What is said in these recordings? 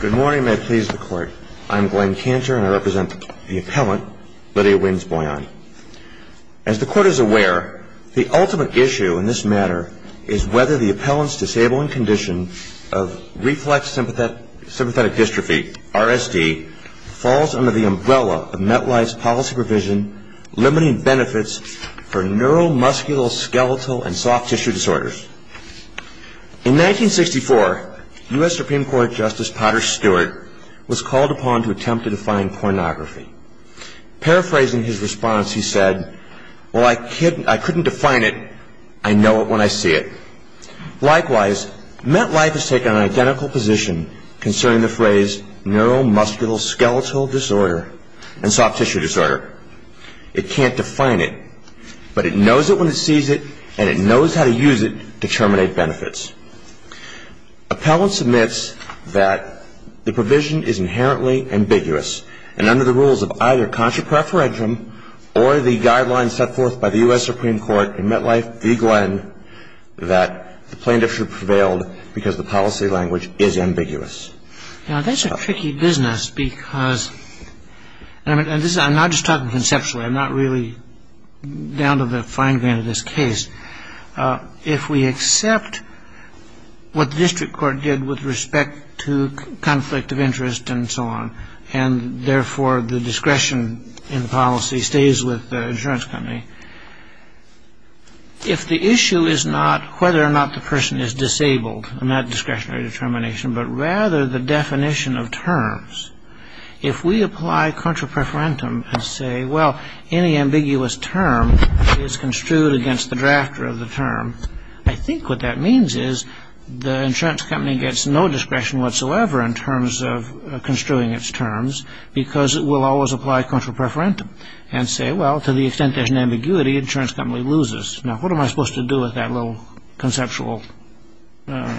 Good morning, and may it please the Court. I'm Glenn Cantor, and I represent the appellant, Lydia Winz-Byone. As the Court is aware, the ultimate issue in this matter is whether the appellant's disabling condition of Reflex Sympathetic Dystrophy, RSD, falls under the umbrella of MetLife's policy provision limiting benefits for neuromuscular, skeletal, and soft tissue disorders. In 1964, U.S. Supreme Court Justice Potter Stewart was called upon to attempt to define pornography. Paraphrasing his response, he said, While I couldn't define it, I know it when I see it. Likewise, MetLife has taken an identical position concerning the phrase neuromuscular, skeletal disorder and soft tissue disorder. Now, that's a tricky business because, and I'm not just talking about this case, I'm talking conceptually, I'm not really down to the fine grain of this case. If we accept what the district court did with respect to conflict of interest and so on, and therefore the discretion in policy stays with the insurance company, if the issue is not whether or not the person is disabled, not discretionary determination, but rather the definition of terms, if we apply contra preferentum and say, well, any ambiguous term is construed against the drafter of the term, I think what that means is the insurance company gets no discretion whatsoever in terms of construing its terms because it will always apply contra preferentum and say, well, to the extent there's an ambiguity, the insurance company loses. Now, what am I supposed to do with that little conceptual, I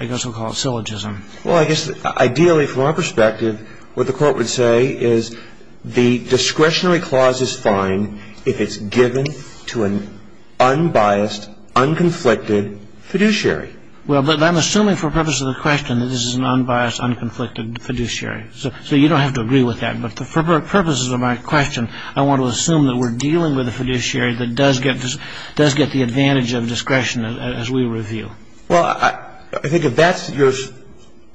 guess we'll call it syllogism? Well, I guess ideally, from our perspective, what the court would say is the discretionary clause is fine if it's given to an unbiased, unconflicted fiduciary. Well, but I'm assuming for the purpose of the question that this is an unbiased, unconflicted fiduciary. So you don't have to agree with that, but for purposes of my question, I want to assume that we're dealing with a fiduciary that does get the advantage of discretion as we review. Well, I think if that's your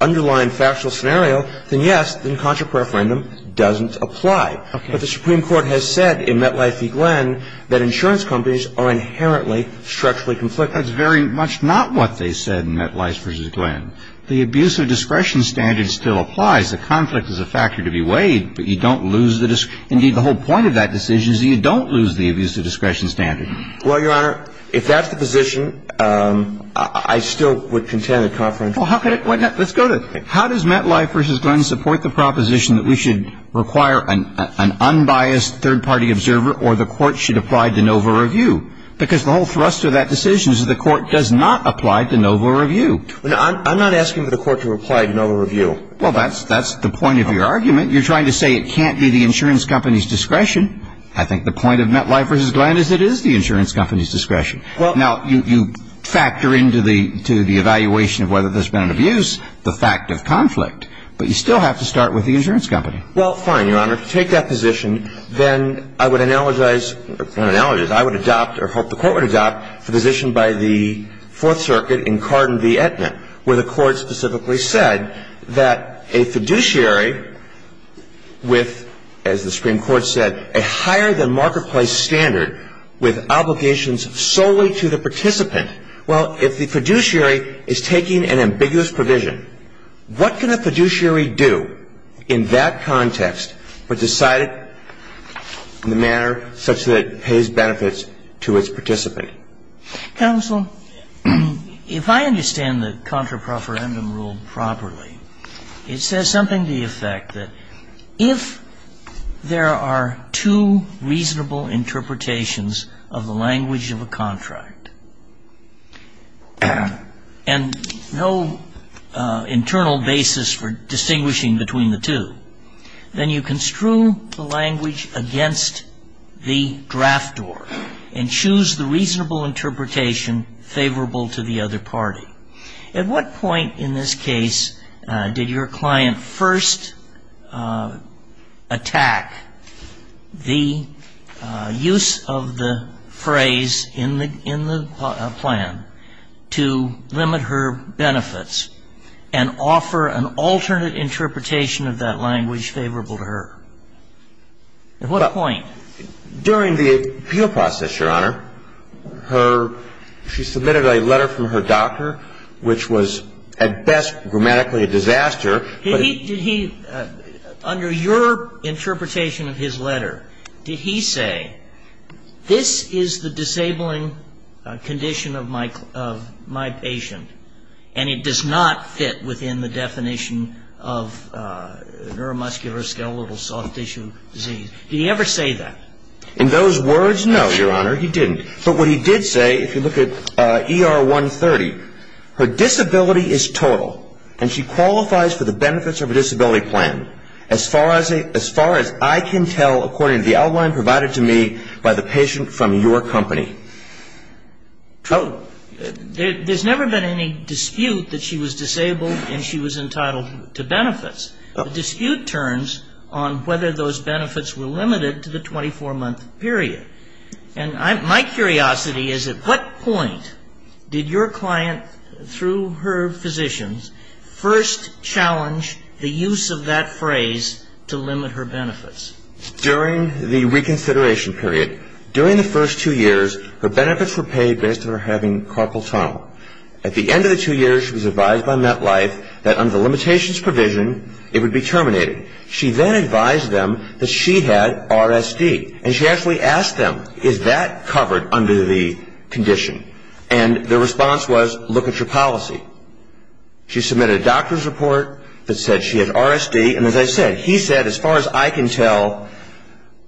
underlying factual scenario, then yes, then contra preferentum doesn't apply. But the Supreme Court has said in Metlife v. Glenn that insurance companies are inherently structurally conflicted. That's very much not what they said in Metlife v. Glenn. The abuse of discretion standard still applies. The conflict is a factor to be weighed, but you don't lose the discretion. The point of that decision is that you don't lose the abuse of discretion standard. Well, Your Honor, if that's the position, I still would contend that contra preferentum doesn't apply. Well, let's go to it. How does Metlife v. Glenn support the proposition that we should require an unbiased third-party observer or the court should apply de novo review? Because the whole thrust of that decision is that the court does not apply de novo review. I'm not asking for the court to apply de novo review. Well, that's the point of your argument. You're trying to say it can't be the insurance company's discretion. I think the point of Metlife v. Glenn is it is the insurance company's discretion. Now, you factor into the evaluation of whether there's been an abuse the fact of conflict. But you still have to start with the insurance company. Well, fine, Your Honor. If you take that position, then I would analogize or hope the court would adopt the position by the Fourth Circuit in Carden v. Aetna, where the court specifically said that a fiduciary with, as the Supreme Court said, a higher-than-marketplace standard with obligations solely to the participant. Well, if the fiduciary is taking an ambiguous provision, what can a fiduciary do in that context but decide it in a manner such that it pays benefits to its participant? Counsel, if I understand the contrapreferendum rule properly, it says something to the effect that if there are two reasonable interpretations of the language of a contract and no internal basis for distinguishing between the two, then you construe the language against the draft door and choose the reasonable interpretation favorable to the other party. At what point in this case did your client first attack the use of the phrase in the plan to limit her benefits and offer an alternate interpretation of that language favorable to her? At what point? During the appeal process, Your Honor. She submitted a letter from her doctor, which was, at best, grammatically a disaster. Did he, under your interpretation of his letter, did he say, this is the disabling condition of my patient and it does not fit within the definition of neuromuscular, skeletal, soft tissue disease? Did he ever say that? In those words, no, Your Honor, he didn't. But what he did say, if you look at ER 130, her disability is total and she qualifies for the benefits of a disability plan as far as I can tell according to the outline provided to me by the patient from your company. There's never been any dispute that she was disabled and she was entitled to benefits. The dispute turns on whether those benefits were limited to the 24-month period. And my curiosity is at what point did your client, through her physicians, first challenge the use of that phrase to limit her benefits? During the reconsideration period. During the first two years, her benefits were paid based on her having carpal tunnel. At the end of the two years, she was advised by MetLife that under the limitations provision, it would be terminated. She then advised them that she had RSD. And she actually asked them, is that covered under the condition? And their response was, look at your policy. She submitted a doctor's report that said she had RSD. And as I said, he said as far as I can tell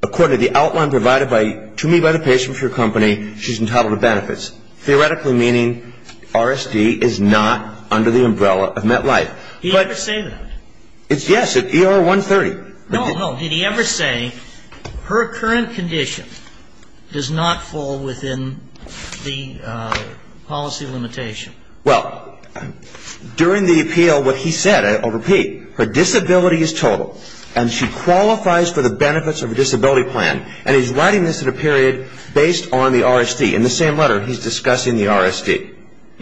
according to the outline provided to me by the patient from your company, she's entitled to benefits. Theoretically meaning RSD is not under the umbrella of MetLife. Did he ever say that? Yes, at ER 130. No, no. Did he ever say her current condition does not fall within the policy limitation? Well, during the appeal, what he said, I'll repeat, her disability is total. And she qualifies for the benefits of a disability plan. And he's writing this in a period based on the RSD. In the same letter, he's discussing the RSD.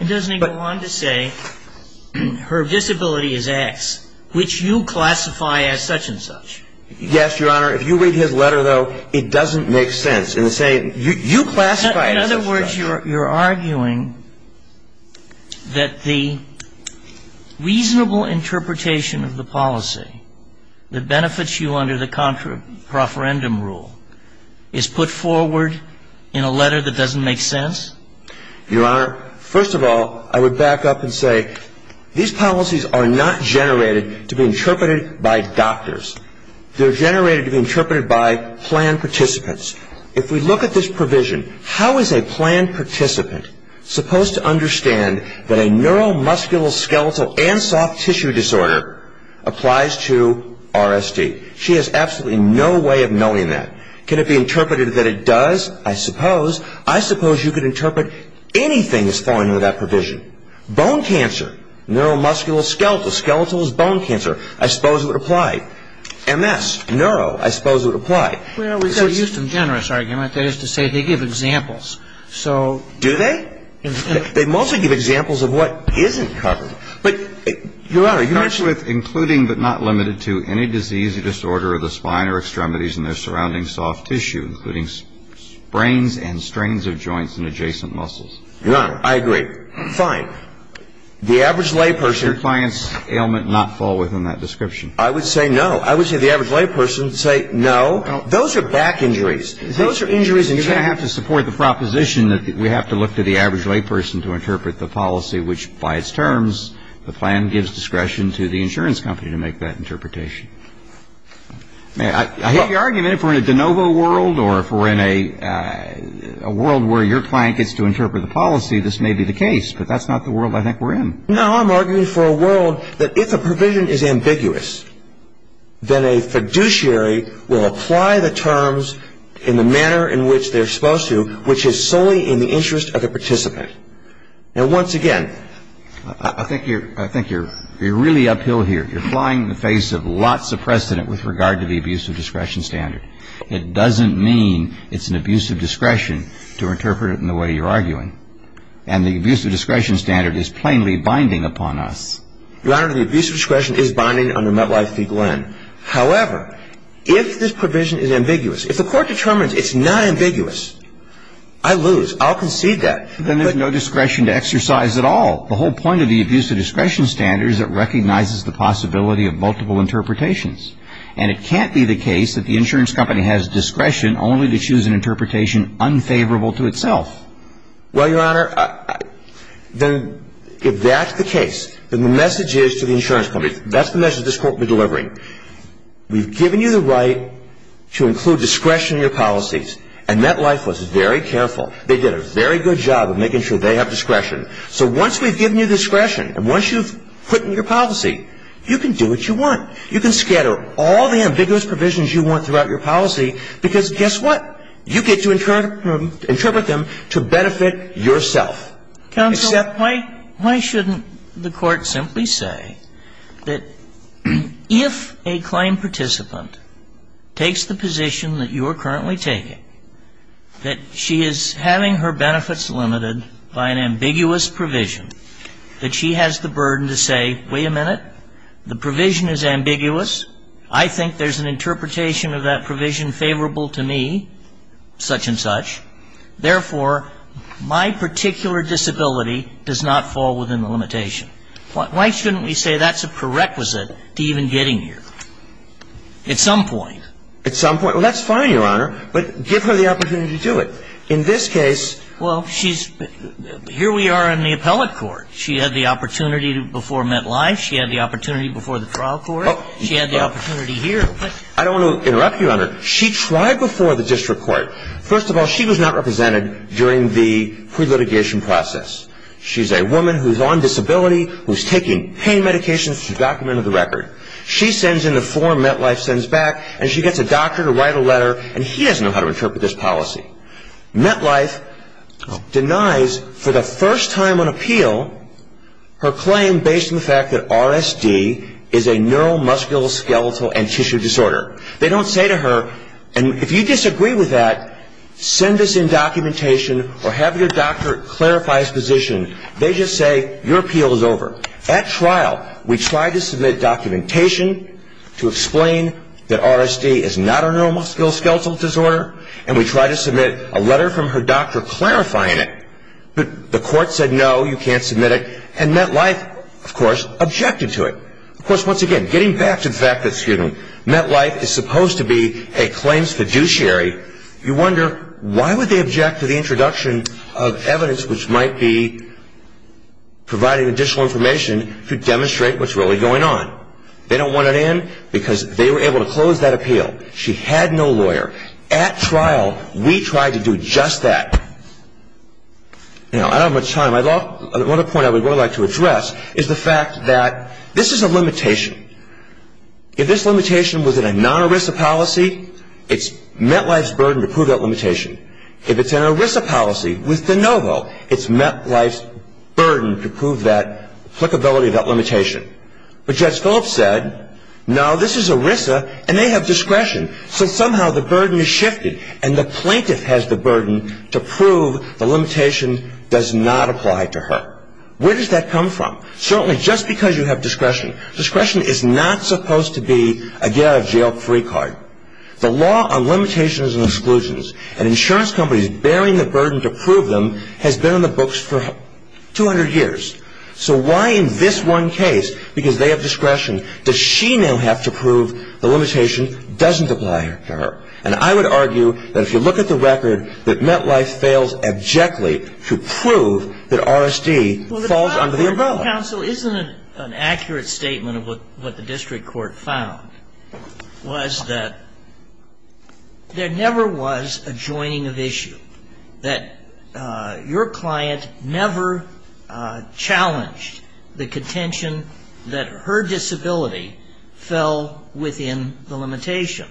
Doesn't he go on to say her disability is X, which you classify as such and such? Yes, Your Honor. If you read his letter, though, it doesn't make sense. In the same you classify it as such and such. In other words, you're arguing that the reasonable interpretation of the policy that benefits you under the contra-proferendum rule is put forward in a letter that doesn't make sense? Your Honor, first of all, I would back up and say these policies are not generated to be interpreted by doctors. They're generated to be interpreted by plan participants. If we look at this provision, how is a plan participant supposed to understand that a neuromuscular skeletal and soft tissue disorder applies to RSD? She has absolutely no way of knowing that. Can it be interpreted that it does? I suppose. I suppose you could interpret anything as falling under that provision. Bone cancer, neuromuscular skeletal, skeletal is bone cancer, I suppose it would apply. MS, neuro, I suppose it would apply. Well, we could use some generous argument. That is to say they give examples. So do they? They mostly give examples of what isn't covered. But, Your Honor, you mentioned with including but not limited to any disease or disorder of the spine or extremities and their surrounding soft tissue, including sprains and strains of joints and adjacent muscles. Your Honor, I agree. Fine. The average lay person. Should your client's ailment not fall within that description? I would say no. I would say the average lay person would say no. Those are back injuries. Those are injuries in general. You're going to have to support the proposition that we have to look to the average lay person to interpret the policy, which by its terms the plan gives discretion to the insurance company to make that interpretation. I hate the argument if we're in a de novo world or if we're in a world where your client gets to interpret the policy, this may be the case. But that's not the world I think we're in. No, I'm arguing for a world that if a provision is ambiguous, then a fiduciary will apply the terms in the manner in which they're supposed to, which is solely in the interest of the participant. Now, once again, I think you're really uphill here. You're flying the face of lots of precedent with regard to the abuse of discretion standard. It doesn't mean it's an abuse of discretion to interpret it in the way you're arguing. And the abuse of discretion standard is plainly binding upon us. Your Honor, the abuse of discretion is binding under MetLife v. Glenn. However, if this provision is ambiguous, if the court determines it's not ambiguous, I lose. I'll concede that. Then there's no discretion to exercise at all. The whole point of the abuse of discretion standard is it recognizes the possibility of multiple interpretations. And it can't be the case that the insurance company has discretion only to choose an interpretation unfavorable to itself. Well, Your Honor, if that's the case, then the message is to the insurance company, that's the message this court will be delivering. We've given you the right to include discretion in your policies. And MetLife was very careful. They did a very good job of making sure they have discretion. So once we've given you discretion and once you've put in your policy, you can do what you want. You can scatter all the ambiguous provisions you want throughout your policy, because guess what? You get to interpret them to benefit yourself. Counsel, why shouldn't the court simply say that if a claim participant takes the position that you are currently taking, that she is having her benefits limited by an ambiguous provision, that she has the burden to say, wait a minute, the provision is ambiguous. I think there's an interpretation of that provision favorable to me, such and such. Therefore, my particular disability does not fall within the limitation. Why shouldn't we say that's a prerequisite to even getting here? At some point. At some point. Well, that's fine, Your Honor. But give her the opportunity to do it. In this case. Well, here we are in the appellate court. She had the opportunity before MetLife. She had the opportunity before the trial court. She had the opportunity here. I don't want to interrupt you, Your Honor. She tried before the district court. First of all, she was not represented during the pre-litigation process. She's a woman who's on disability, who's taking pain medications. She's documented the record. She sends in the form MetLife sends back, and she gets a doctor to write a letter, and he doesn't know how to interpret this policy. MetLife denies, for the first time on appeal, her claim based on the fact that RSD is a neuromusculoskeletal and tissue disorder. They don't say to her, and if you disagree with that, send us in documentation or have your doctor clarify his position. They just say, your appeal is over. At trial, we try to submit documentation to explain that RSD is not a neuromusculoskeletal disorder. And we try to submit a letter from her doctor clarifying it, but the court said, no, you can't submit it. And MetLife, of course, objected to it. Of course, once again, getting back to the fact that, excuse me, MetLife is supposed to be a claims fiduciary, you wonder why would they object to the introduction of evidence which might be providing additional information to demonstrate what's really going on. They don't want it in because they were able to close that appeal. She had no lawyer. At trial, we tried to do just that. Now, I don't have much time. One other point I would really like to address is the fact that this is a limitation. If this limitation was in a non-ERISA policy, it's MetLife's burden to prove that limitation. If it's in an ERISA policy with de novo, it's MetLife's burden to prove that applicability of that limitation. But Judge Phillips said, no, this is ERISA and they have discretion, so somehow the burden is shifted and the plaintiff has the burden to prove the limitation does not apply to her. Where does that come from? Certainly just because you have discretion. Discretion is not supposed to be a get out of jail free card. The law on limitations and exclusions and insurance companies bearing the burden to prove them has been in the books for 200 years. So why in this one case, because they have discretion, does she now have to prove the limitation doesn't apply to her? And I would argue that if you look at the record, that MetLife fails abjectly to prove that R.S.D. falls under the above. Your counsel, isn't it an accurate statement of what the district court found? Was that there never was a joining of issue. That your client never challenged the contention that her disability fell within the limitation.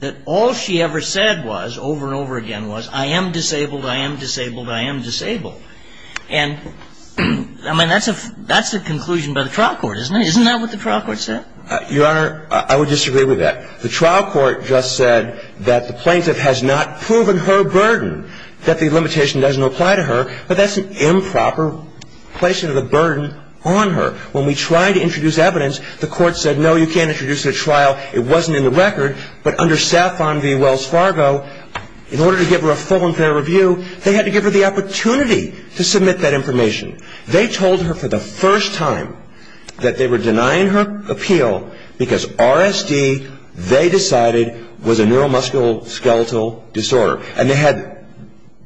That all she ever said was, over and over again was, I am disabled, I am disabled, I am disabled. And I mean, that's a conclusion by the trial court, isn't it? Isn't that what the trial court said? Your Honor, I would disagree with that. The trial court just said that the plaintiff has not proven her burden, that the limitation doesn't apply to her. But that's an improper placement of the burden on her. When we tried to introduce evidence, the court said, no, you can't introduce it at trial. It wasn't in the record. But under SAFON v. Wells Fargo, in order to give her a full and fair review, they had to give her the opportunity. To submit that information. They told her for the first time that they were denying her appeal because RSD, they decided, was a neuromusculoskeletal disorder. And they had,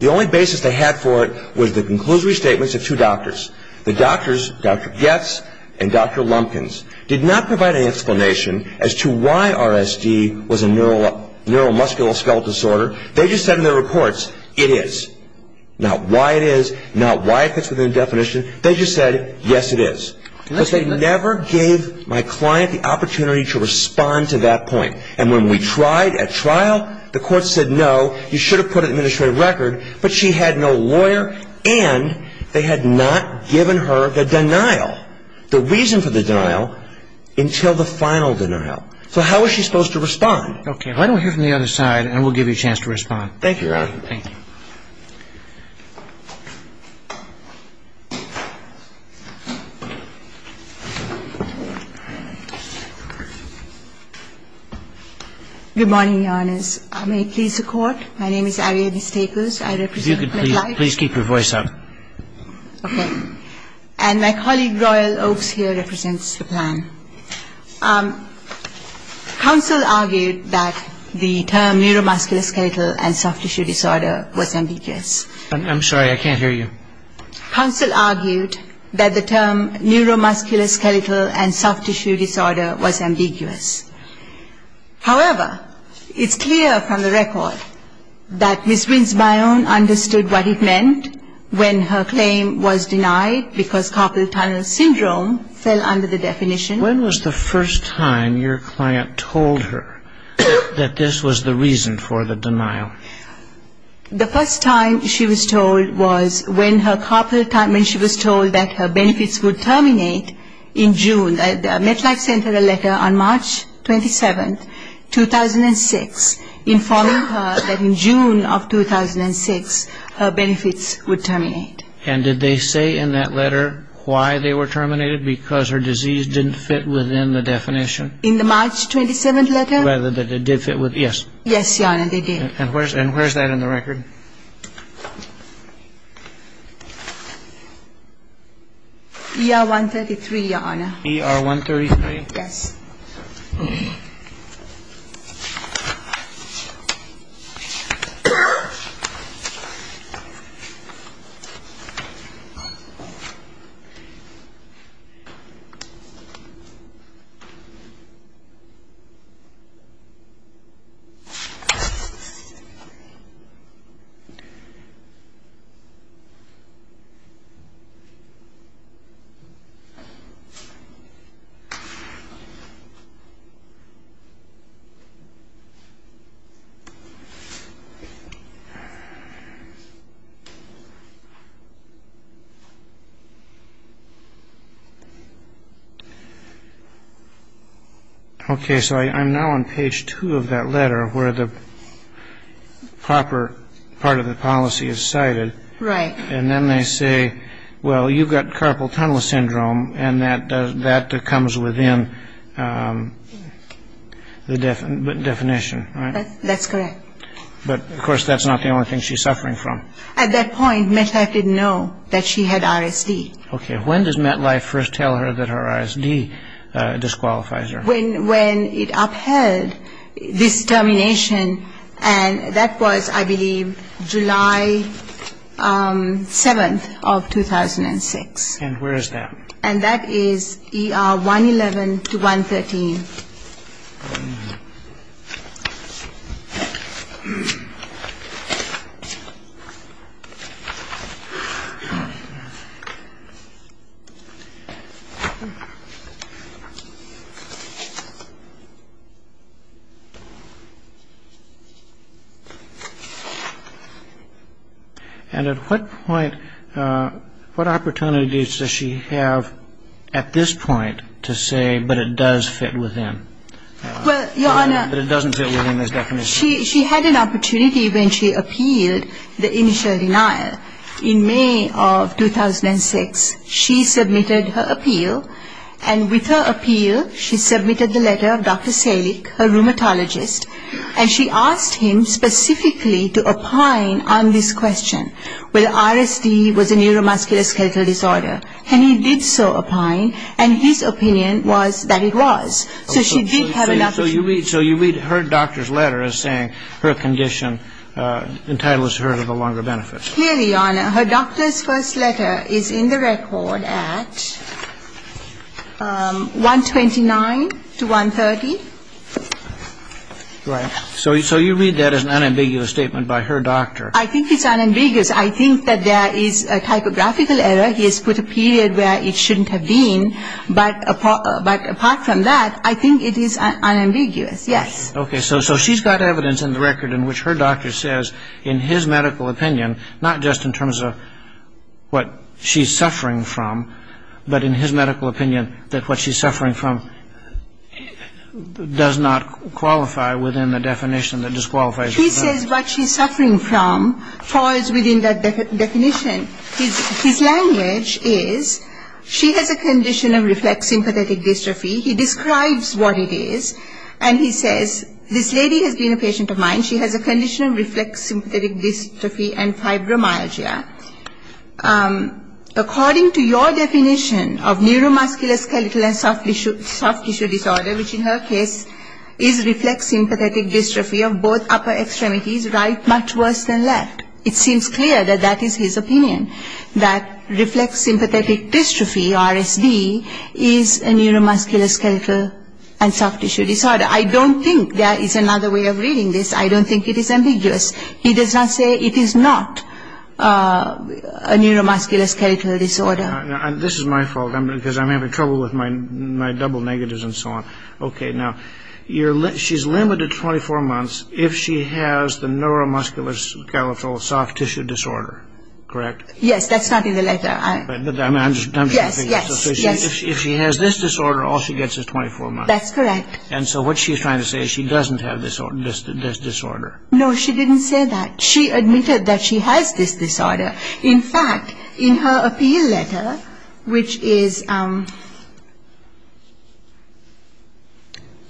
the only basis they had for it was the conclusory statements of two doctors. The doctors, Dr. Goetz and Dr. Lumpkins, did not provide an explanation as to why RSD was a neuromusculoskeletal disorder. They just said in their reports, it is. Not why it is. Not why if it's within definition. They just said, yes, it is. Because they never gave my client the opportunity to respond to that point. And when we tried at trial, the court said, no, you should have put it in the administrative record. But she had no lawyer. And they had not given her the denial, the reason for the denial, until the final denial. So how was she supposed to respond? Okay. Why don't we hear from the other side and we'll give you a chance to respond. Thank you, Your Honor. Thank you. Good morning, Your Honors. May it please the Court? My name is Ariadne Staples. I represent McClyde. If you could please keep your voice up. Okay. And my colleague Royal Oaks here represents the plan. Counsel argued that the term neuromuscular skeletal and soft tissue disorder was ambiguous. I'm sorry. I can't hear you. Counsel argued that the term neuromuscular skeletal and soft tissue disorder was ambiguous. However, it's clear from the record that Ms. Winsmeyer understood what it meant when her claim was denied because carpal tunnel syndrome fell under the definition. When was the first time your client told her that this was the reason for the denial? The first time she was told was when she was told that her benefits would terminate in June. MetLife sent her a letter on March 27, 2006, informing her that in June of 2006, her benefits would terminate. And did they say in that letter why they were terminated? Because her disease didn't fit within the definition? In the March 27 letter? Rather that it did fit within. Yes. Yes, Your Honor, they did. And where's that in the record? ER-133, Your Honor. ER-133? Yes. Thank you, Your Honor. Okay. So I'm now on page two of that letter where the proper part of the policy is cited. Right. And then they say, well, you've got carpal tunnel syndrome, and that comes within the definition, right? That's correct. But, of course, that's not the only thing she's suffering from. At that point, MetLife didn't know that she had RSD. Okay. When does MetLife first tell her that her RSD disqualifies her? When it upheld this termination, and that was, I believe, July 7th of 2006. And where is that? And that is ER-111 to 113. And at what point, what opportunities does she have at this point to say, but it does fit within this definition? She had an opportunity when she appealed the initial denial. In May of 2006, she submitted her appeal, and with her appeal, she submitted the letter of Dr. Selig, her rheumatologist, and she asked him specifically to opine on this question, whether RSD was a neuromusculoskeletal disorder. And he did so opine, and his opinion was that it was. So she did have an opportunity. So you read her doctor's letter as saying her condition entitles her to the longer benefits. Clearly, Your Honor, her doctor's first letter is in the record at 129 to 130. Right. So you read that as an unambiguous statement by her doctor. I think it's unambiguous. I think that there is a typographical error. He has put a period where it shouldn't have been. But apart from that, I think it is unambiguous, yes. Okay. So she's got evidence in the record in which her doctor says in his medical opinion, not just in terms of what she's suffering from, but in his medical opinion that what she's suffering from does not qualify within the definition that disqualifies her. He says what she's suffering from falls within that definition. His language is she has a condition of reflex sympathetic dystrophy. He describes what it is. And he says this lady has been a patient of mine. She has a condition of reflex sympathetic dystrophy and fibromyalgia. According to your definition of neuromuscular skeletal and soft tissue disorder, which in her case is reflex sympathetic dystrophy of both upper extremities, right much worse than left. It seems clear that that is his opinion, that reflex sympathetic dystrophy, RSD, is a neuromuscular skeletal and soft tissue disorder. I don't think there is another way of reading this. I don't think it is ambiguous. He does not say it is not a neuromuscular skeletal disorder. This is my fault because I'm having trouble with my double negatives and so on. Okay. Now, she's limited to 24 months if she has the neuromuscular skeletal soft tissue disorder. Correct? Yes. That's not in the letter. Yes. Yes. If she has this disorder, all she gets is 24 months. That's correct. And so what she's trying to say is she doesn't have this disorder. No, she didn't say that. She admitted that she has this disorder. In fact, in her appeal letter, which is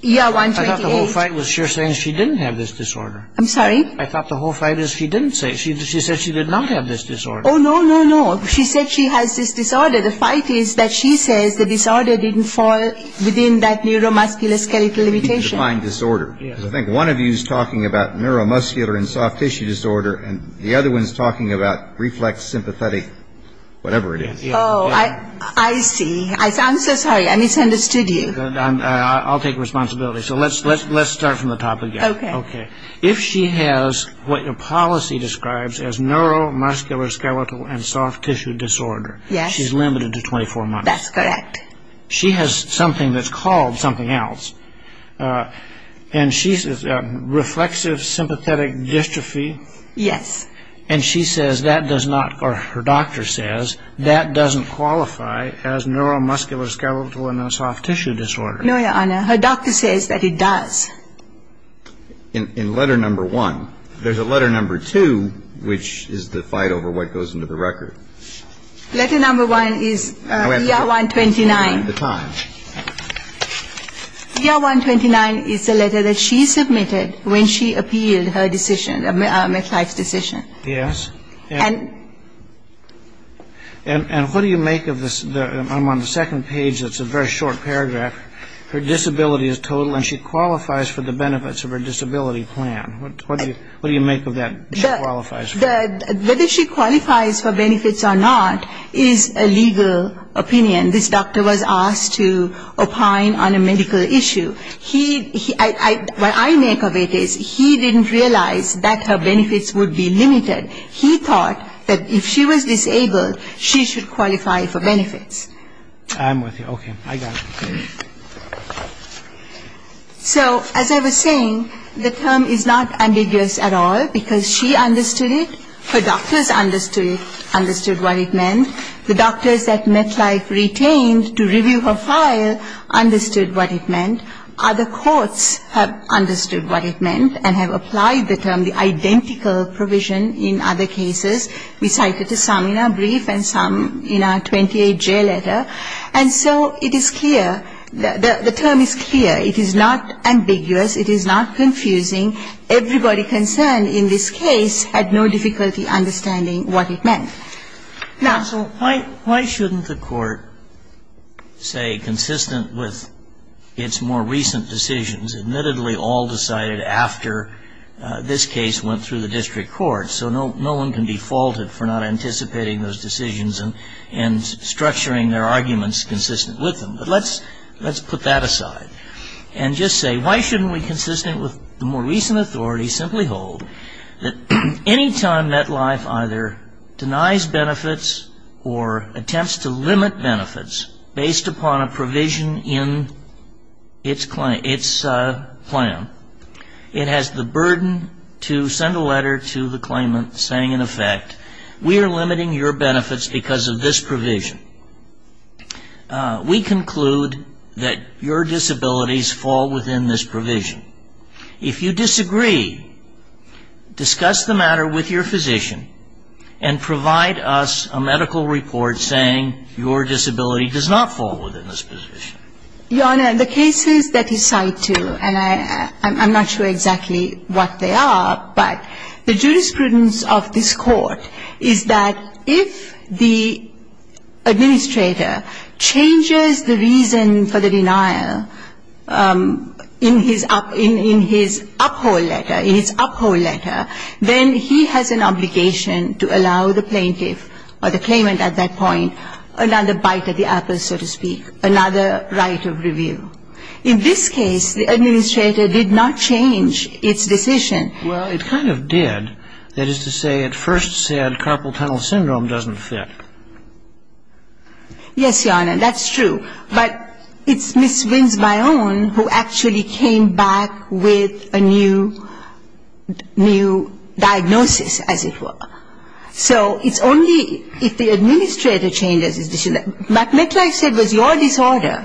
ER-128. I thought the whole fight was she was saying she didn't have this disorder. I'm sorry? I thought the whole fight is she didn't say it. She said she did not have this disorder. Oh, no, no, no. She said she has this disorder. The fight is that she says the disorder didn't fall within that neuromuscular skeletal limitation. I think one of you is talking about neuromuscular and soft tissue disorder and the other one is talking about reflex sympathetic whatever it is. Oh, I see. I'm so sorry. I misunderstood you. I'll take responsibility. So let's start from the top again. Okay. Okay. If she has what your policy describes as neuromuscular skeletal and soft tissue disorder. Yes. She's limited to 24 months. That's correct. She has something that's called something else, and she's reflexive sympathetic dystrophy. Yes. And she says that does not or her doctor says that doesn't qualify as neuromuscular skeletal and soft tissue disorder. No, Your Honor. Her doctor says that it does. In letter number one, there's a letter number two, which is the fight over what goes into the record. Letter number one is ER-129. ER-129 is the letter that she submitted when she appealed her decision, McLeish's decision. Yes. And what do you make of this? I'm on the second page. It's a very short paragraph. Her disability is total and she qualifies for the benefits of her disability plan. What do you make of that? Whether she qualifies for benefits or not is a legal opinion. This doctor was asked to opine on a medical issue. What I make of it is he didn't realize that her benefits would be limited. He thought that if she was disabled, she should qualify for benefits. I'm with you. Okay. I got it. So as I was saying, the term is not ambiguous at all because she understood it, her doctors understood it, understood what it meant. The doctors that McLeish retained to review her file understood what it meant. Other courts have understood what it meant and have applied the term, the identical provision in other cases. We cited some in our brief and some in our 28J letter. And so it is clear, the term is clear. It is not ambiguous. It is not confusing. Everybody concerned in this case had no difficulty understanding what it meant. Now, so why shouldn't the court say, consistent with its more recent decisions, admittedly all decided after this case went through the district court, so no one can be faulted for not anticipating those decisions and structuring their arguments consistent with them. But let's put that aside and just say, why shouldn't we, consistent with the more recent authority, simply hold that any time MetLife either denies benefits or attempts to limit benefits based upon a provision in its plan, it has the burden to send a letter to the claimant saying, in effect, we are limiting your benefits because of this provision. We conclude that your disabilities fall within this provision. If you disagree, discuss the matter with your physician and provide us a medical report saying your disability does not fall within this provision. Your Honor, the cases that you cite, too, and I'm not sure exactly what they are, but the jurisprudence of this Court is that if the administrator changes the reason for the denial in his uphold letter, in his uphold letter, then he has an obligation to allow the plaintiff or the claimant at that point another bite at the apple, so to speak, another right of review. In this case, the administrator did not change its decision. Well, it kind of did. That is to say, it first said carpal tunnel syndrome doesn't fit. Yes, Your Honor, that's true. But it's Ms. Wins-Byone who actually came back with a new diagnosis, as it were. So it's only if the administrator changes his decision. What MetLife said was your disorder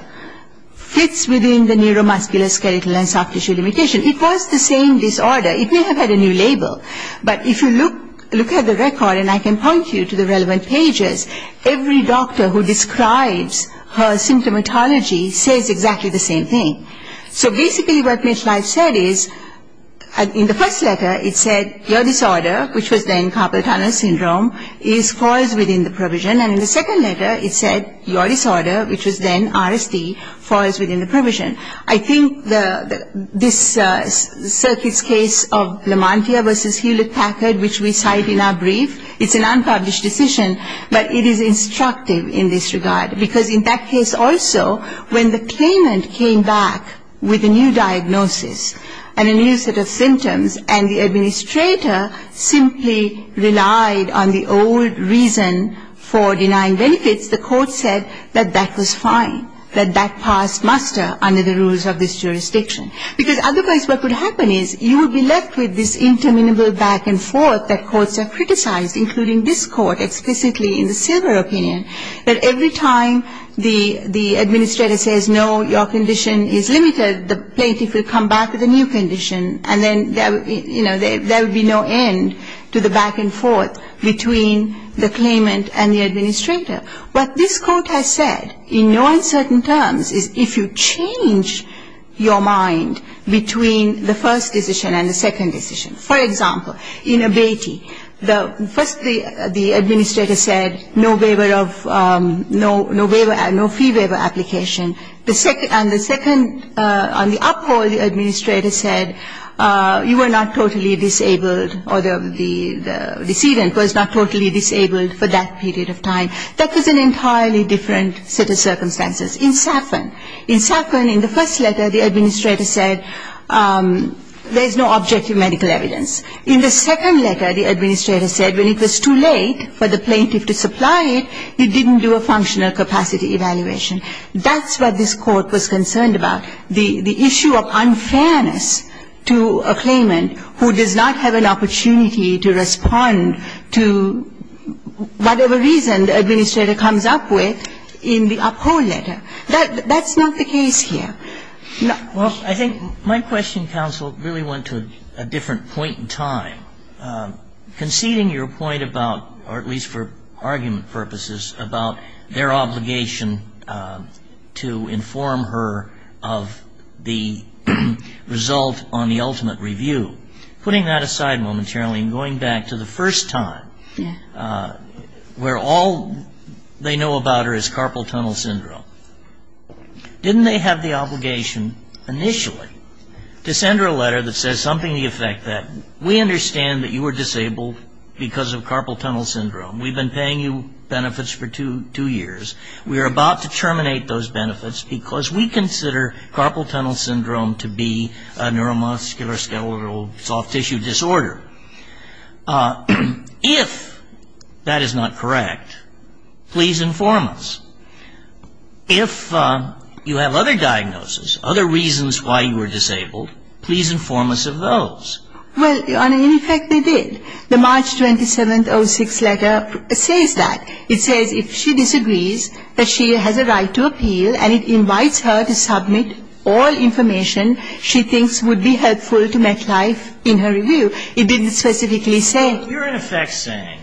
fits within the neuromuscular, skeletal, and soft tissue limitation. It was the same disorder. It may have had a new label. But if you look at the record, and I can point you to the relevant pages, every doctor who describes her symptomatology says exactly the same thing. So basically what MetLife said is in the first letter it said your disorder, which was then carpal tunnel syndrome, falls within the provision. And in the second letter it said your disorder, which was then RSD, falls within the provision. I think this circuit's case of Lamantia v. Hewlett-Packard, which we cite in our brief, it's an unpublished decision, but it is instructive in this regard. Because in that case also, when the claimant came back with a new diagnosis and a new set of symptoms and the administrator simply relied on the old reason for denying benefits, the court said that that was fine, that that passed muster under the rules of this jurisdiction. Because otherwise what would happen is you would be left with this interminable back and forth that courts have criticized, including this court explicitly in the Silver opinion, that every time the administrator says, no, your condition is limited, the plaintiff will come back with a new condition, and then there would be no end to the back and forth between the claimant and the administrator. What this court has said, in no uncertain terms, is if you change your mind between the first decision and the second decision. For example, in Abatey, first the administrator said no waiver of, no fee waiver application, and the second, on the uphold, the administrator said you were not totally disabled or the decedent was not totally disabled for that period of time. That was an entirely different set of circumstances. In Safran, in Safran, in the first letter, the administrator said there is no objective medical evidence. In the second letter, the administrator said when it was too late for the plaintiff to supply it, it didn't do a functional capacity evaluation. That's what this court was concerned about, the issue of unfairness to a claimant who does not have an opportunity to respond to whatever reason the administrator comes up with in the uphold letter. That's not the case here. Well, I think my question, counsel, really went to a different point in time. Conceding your point about, or at least for argument purposes, about their obligation to inform her of the result on the ultimate review, putting that aside momentarily and going back to the first time where all they know about her is carpal tunnel syndrome, didn't they have the obligation initially to send her a letter that says something to the effect that we understand that you were disabled because of carpal tunnel syndrome. We've been paying you benefits for two years. We are about to terminate those benefits because we consider carpal tunnel syndrome to be a neuromuscular skeletal soft tissue disorder. If that is not correct, please inform us. If you have other diagnoses, other reasons why you were disabled, please inform us of those. Well, in effect they did. The March 27th 06 letter says that. It says if she disagrees that she has a right to appeal and it invites her to submit all information she thinks would be helpful to MetLife in her review. It didn't specifically say. You're in effect saying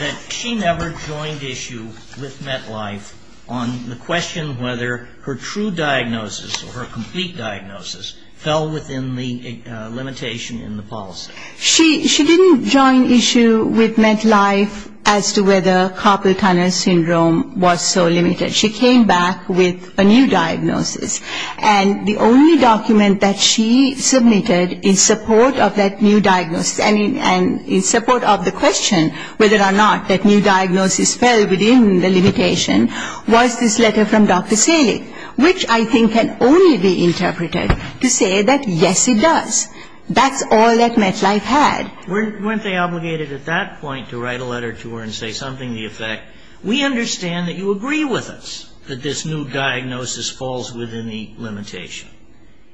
that she never joined issue with MetLife on the question whether her true diagnosis or her complete diagnosis fell within the limitation in the policy. She didn't join issue with MetLife as to whether carpal tunnel syndrome was so limited. She came back with a new diagnosis. And the only document that she submitted in support of that new diagnosis and in support of the question whether or not that new diagnosis fell within the limitation was this letter from Dr. Selig, which I think can only be interpreted to say that yes, it does. That's all that MetLife had. Weren't they obligated at that point to write a letter to her and say something to the effect, we understand that you agree with us that this new diagnosis falls within the limitation.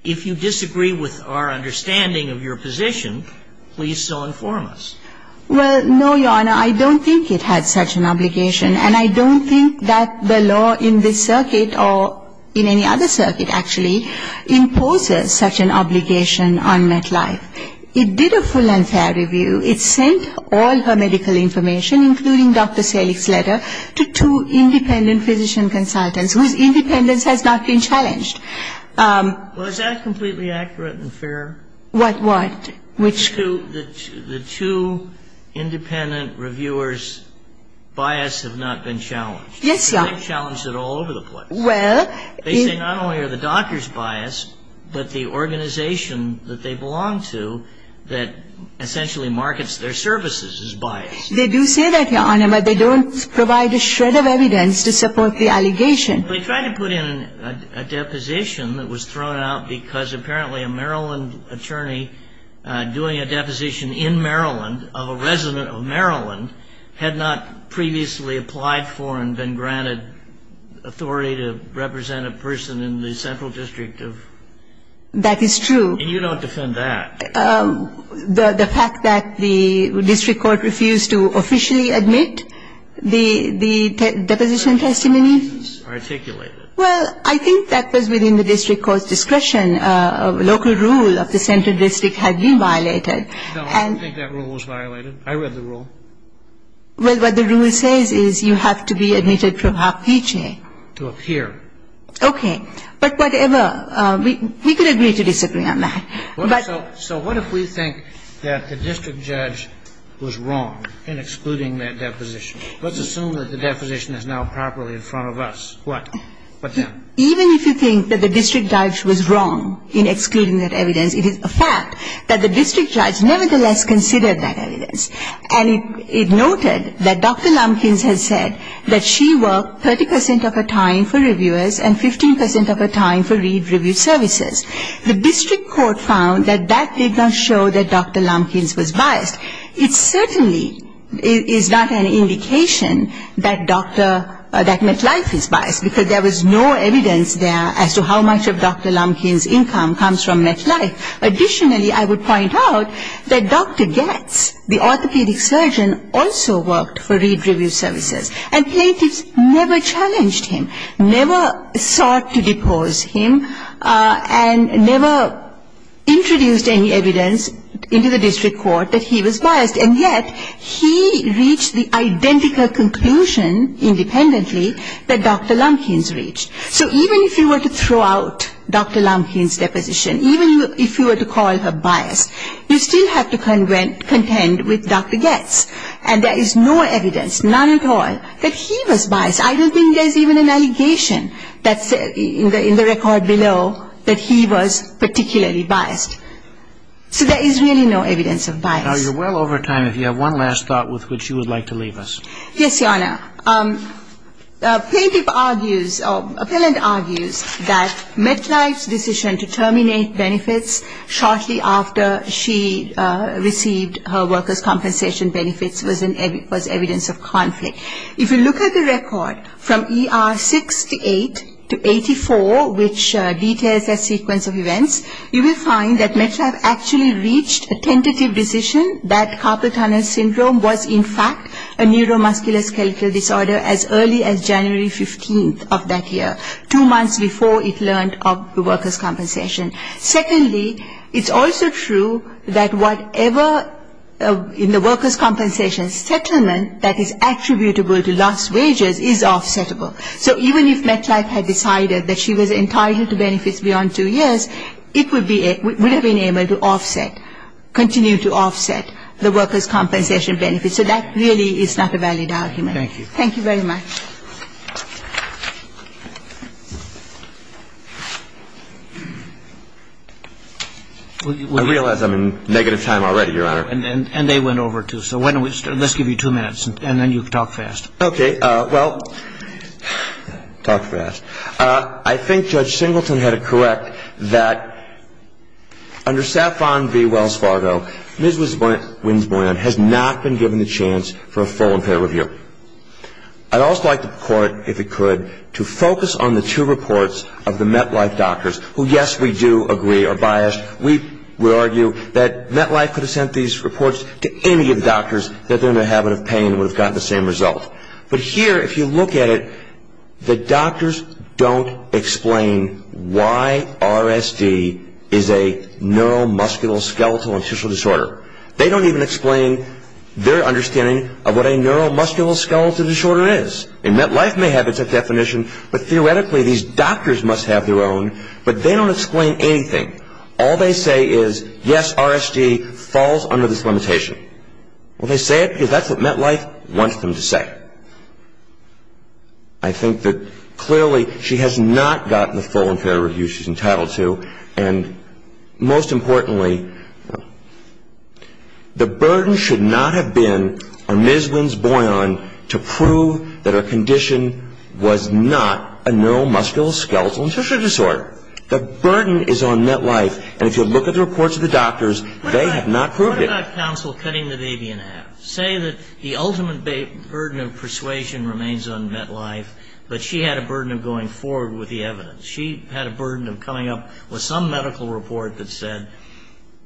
If you disagree with our understanding of your position, please still inform us. Well, no, Your Honor. I don't think it had such an obligation. And I don't think that the law in this circuit or in any other circuit, actually, imposes such an obligation on MetLife. It did a full and fair review. It sent all her medical information, including Dr. Selig's letter, to two independent physician consultants whose independence has not been challenged. Well, is that completely accurate and fair? What? Which two? The two independent reviewers' bias have not been challenged. Yes, Your Honor. They've challenged it all over the place. Well. They say not only are the doctors biased, but the organization that they belong to that essentially markets their services is biased. They do say that, Your Honor, but they don't provide a shred of evidence to support the allegation. They tried to put in a deposition that was thrown out because apparently a Maryland attorney doing a deposition in Maryland of a resident of Maryland had not previously applied for and been granted authority to represent a person in the central district of Maryland. That is true. And you don't defend that. The fact that the district court refused to officially admit the deposition testimony? Well, I think that was within the district court's discretion. A local rule of the central district had been violated. No, I don't think that rule was violated. I read the rule. Well, what the rule says is you have to be admitted for a half-page name. To appear. Okay. But whatever. We could agree to disagree on that. So what if we think that the district judge was wrong in excluding that deposition? Let's assume that the deposition is now properly in front of us. What? Even if you think that the district judge was wrong in excluding that evidence, it is a fact that the district judge nevertheless considered that evidence. And it noted that Dr. Lumpkins has said that she worked 30 percent of her time for reviewers and 15 percent of her time for review services. The district court found that that did not show that Dr. Lumpkins was biased. It certainly is not an indication that MetLife is biased because there was no evidence there as to how much of Dr. Lumpkins' income comes from MetLife. Additionally, I would point out that Dr. Goetz, the orthopedic surgeon, also worked for read review services. And plaintiffs never challenged him, never sought to depose him, and never introduced any evidence into the district court that he was biased. And yet he reached the identical conclusion independently that Dr. Lumpkins reached. So even if you were to throw out Dr. Lumpkins' deposition, even if you were to call her biased, you still have to contend with Dr. Goetz. And there is no evidence, none at all, that he was biased. I don't think there's even an allegation that's in the record below that he was particularly biased. So there is really no evidence of bias. Now, you're well over time. If you have one last thought with which you would like to leave us. Yes, Your Honor. A plaintiff argues, or appellant argues, that MetLife's decision to terminate benefits shortly after she received her workers' compensation benefits was evidence of conflict. If you look at the record from ER 68 to 84, which details a sequence of events, you will find that MetLife actually reached a tentative decision that Carpal Tunnel Syndrome was in fact a neuromuscular skeletal disorder as early as January 15th of that year, two months before it learned of the workers' compensation. Secondly, it's also true that whatever in the workers' compensation settlement that is attributable to lost wages is offsettable. So even if MetLife had decided that she was entitled to benefits beyond two years, it would have been able to offset, continue to offset the workers' compensation benefits. So that really is not a valid argument. Thank you. Thank you very much. I realize I'm in negative time already, Your Honor. And they went over, too. So why don't we start? Let's give you two minutes, and then you can talk fast. Okay. Well, talk fast. I think Judge Singleton had it correct that under SAFON v. Wells Fargo, Ms. Winsboyan has not been given the chance for a full and fair review. I'd also like the Court, if it could, to focus on the two reports of the MetLife doctors, who, yes, we do agree are biased. We argue that MetLife could have sent these reports to any of the doctors that they're in the habit of paying and would have gotten the same result. But here, if you look at it, the doctors don't explain why RSD is a neuromuscular skeletal and tissue disorder. They don't even explain their understanding of what a neuromuscular skeletal disorder is. And MetLife may have its own definition, but theoretically these doctors must have their own, but they don't explain anything. All they say is, yes, RSD falls under this limitation. Well, they say it because that's what MetLife wants them to say. I think that clearly she has not gotten the full and fair review she's entitled to, and most importantly, the burden should not have been on Ms. Winsboyan to prove that her condition was not a neuromuscular skeletal and tissue disorder. The burden is on MetLife, and if you look at the reports of the doctors, they have not proved it. What about counsel cutting the baby in half? Say that the ultimate burden of persuasion remains on MetLife, but she had a burden of going forward with the evidence. She had a burden of coming up with some medical report that said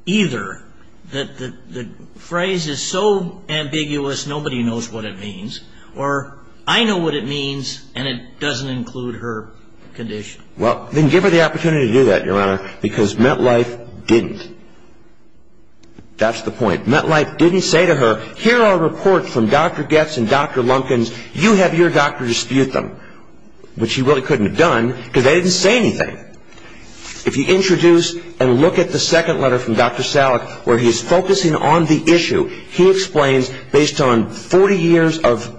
either that the phrase is so ambiguous nobody knows what it means, or I know what it means and it doesn't include her condition. Well, then give her the opportunity to do that, Your Honor, because MetLife didn't. That's the point. MetLife didn't say to her, here are reports from Dr. Goetz and Dr. Lumpkins. You have your doctor dispute them, which she really couldn't have done because they didn't say anything. If you introduce and look at the second letter from Dr. Salek where he is focusing on the issue, he explains based on 40 years of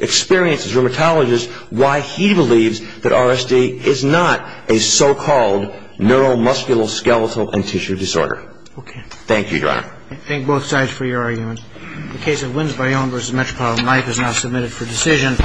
experience as a rheumatologist why he believes that RSD is not a so-called neuromuscular skeletal and tissue disorder. Thank you, Your Honor. I thank both sides for your argument. The case of Wins by Own v. Metropolitan Life is now submitted for decision.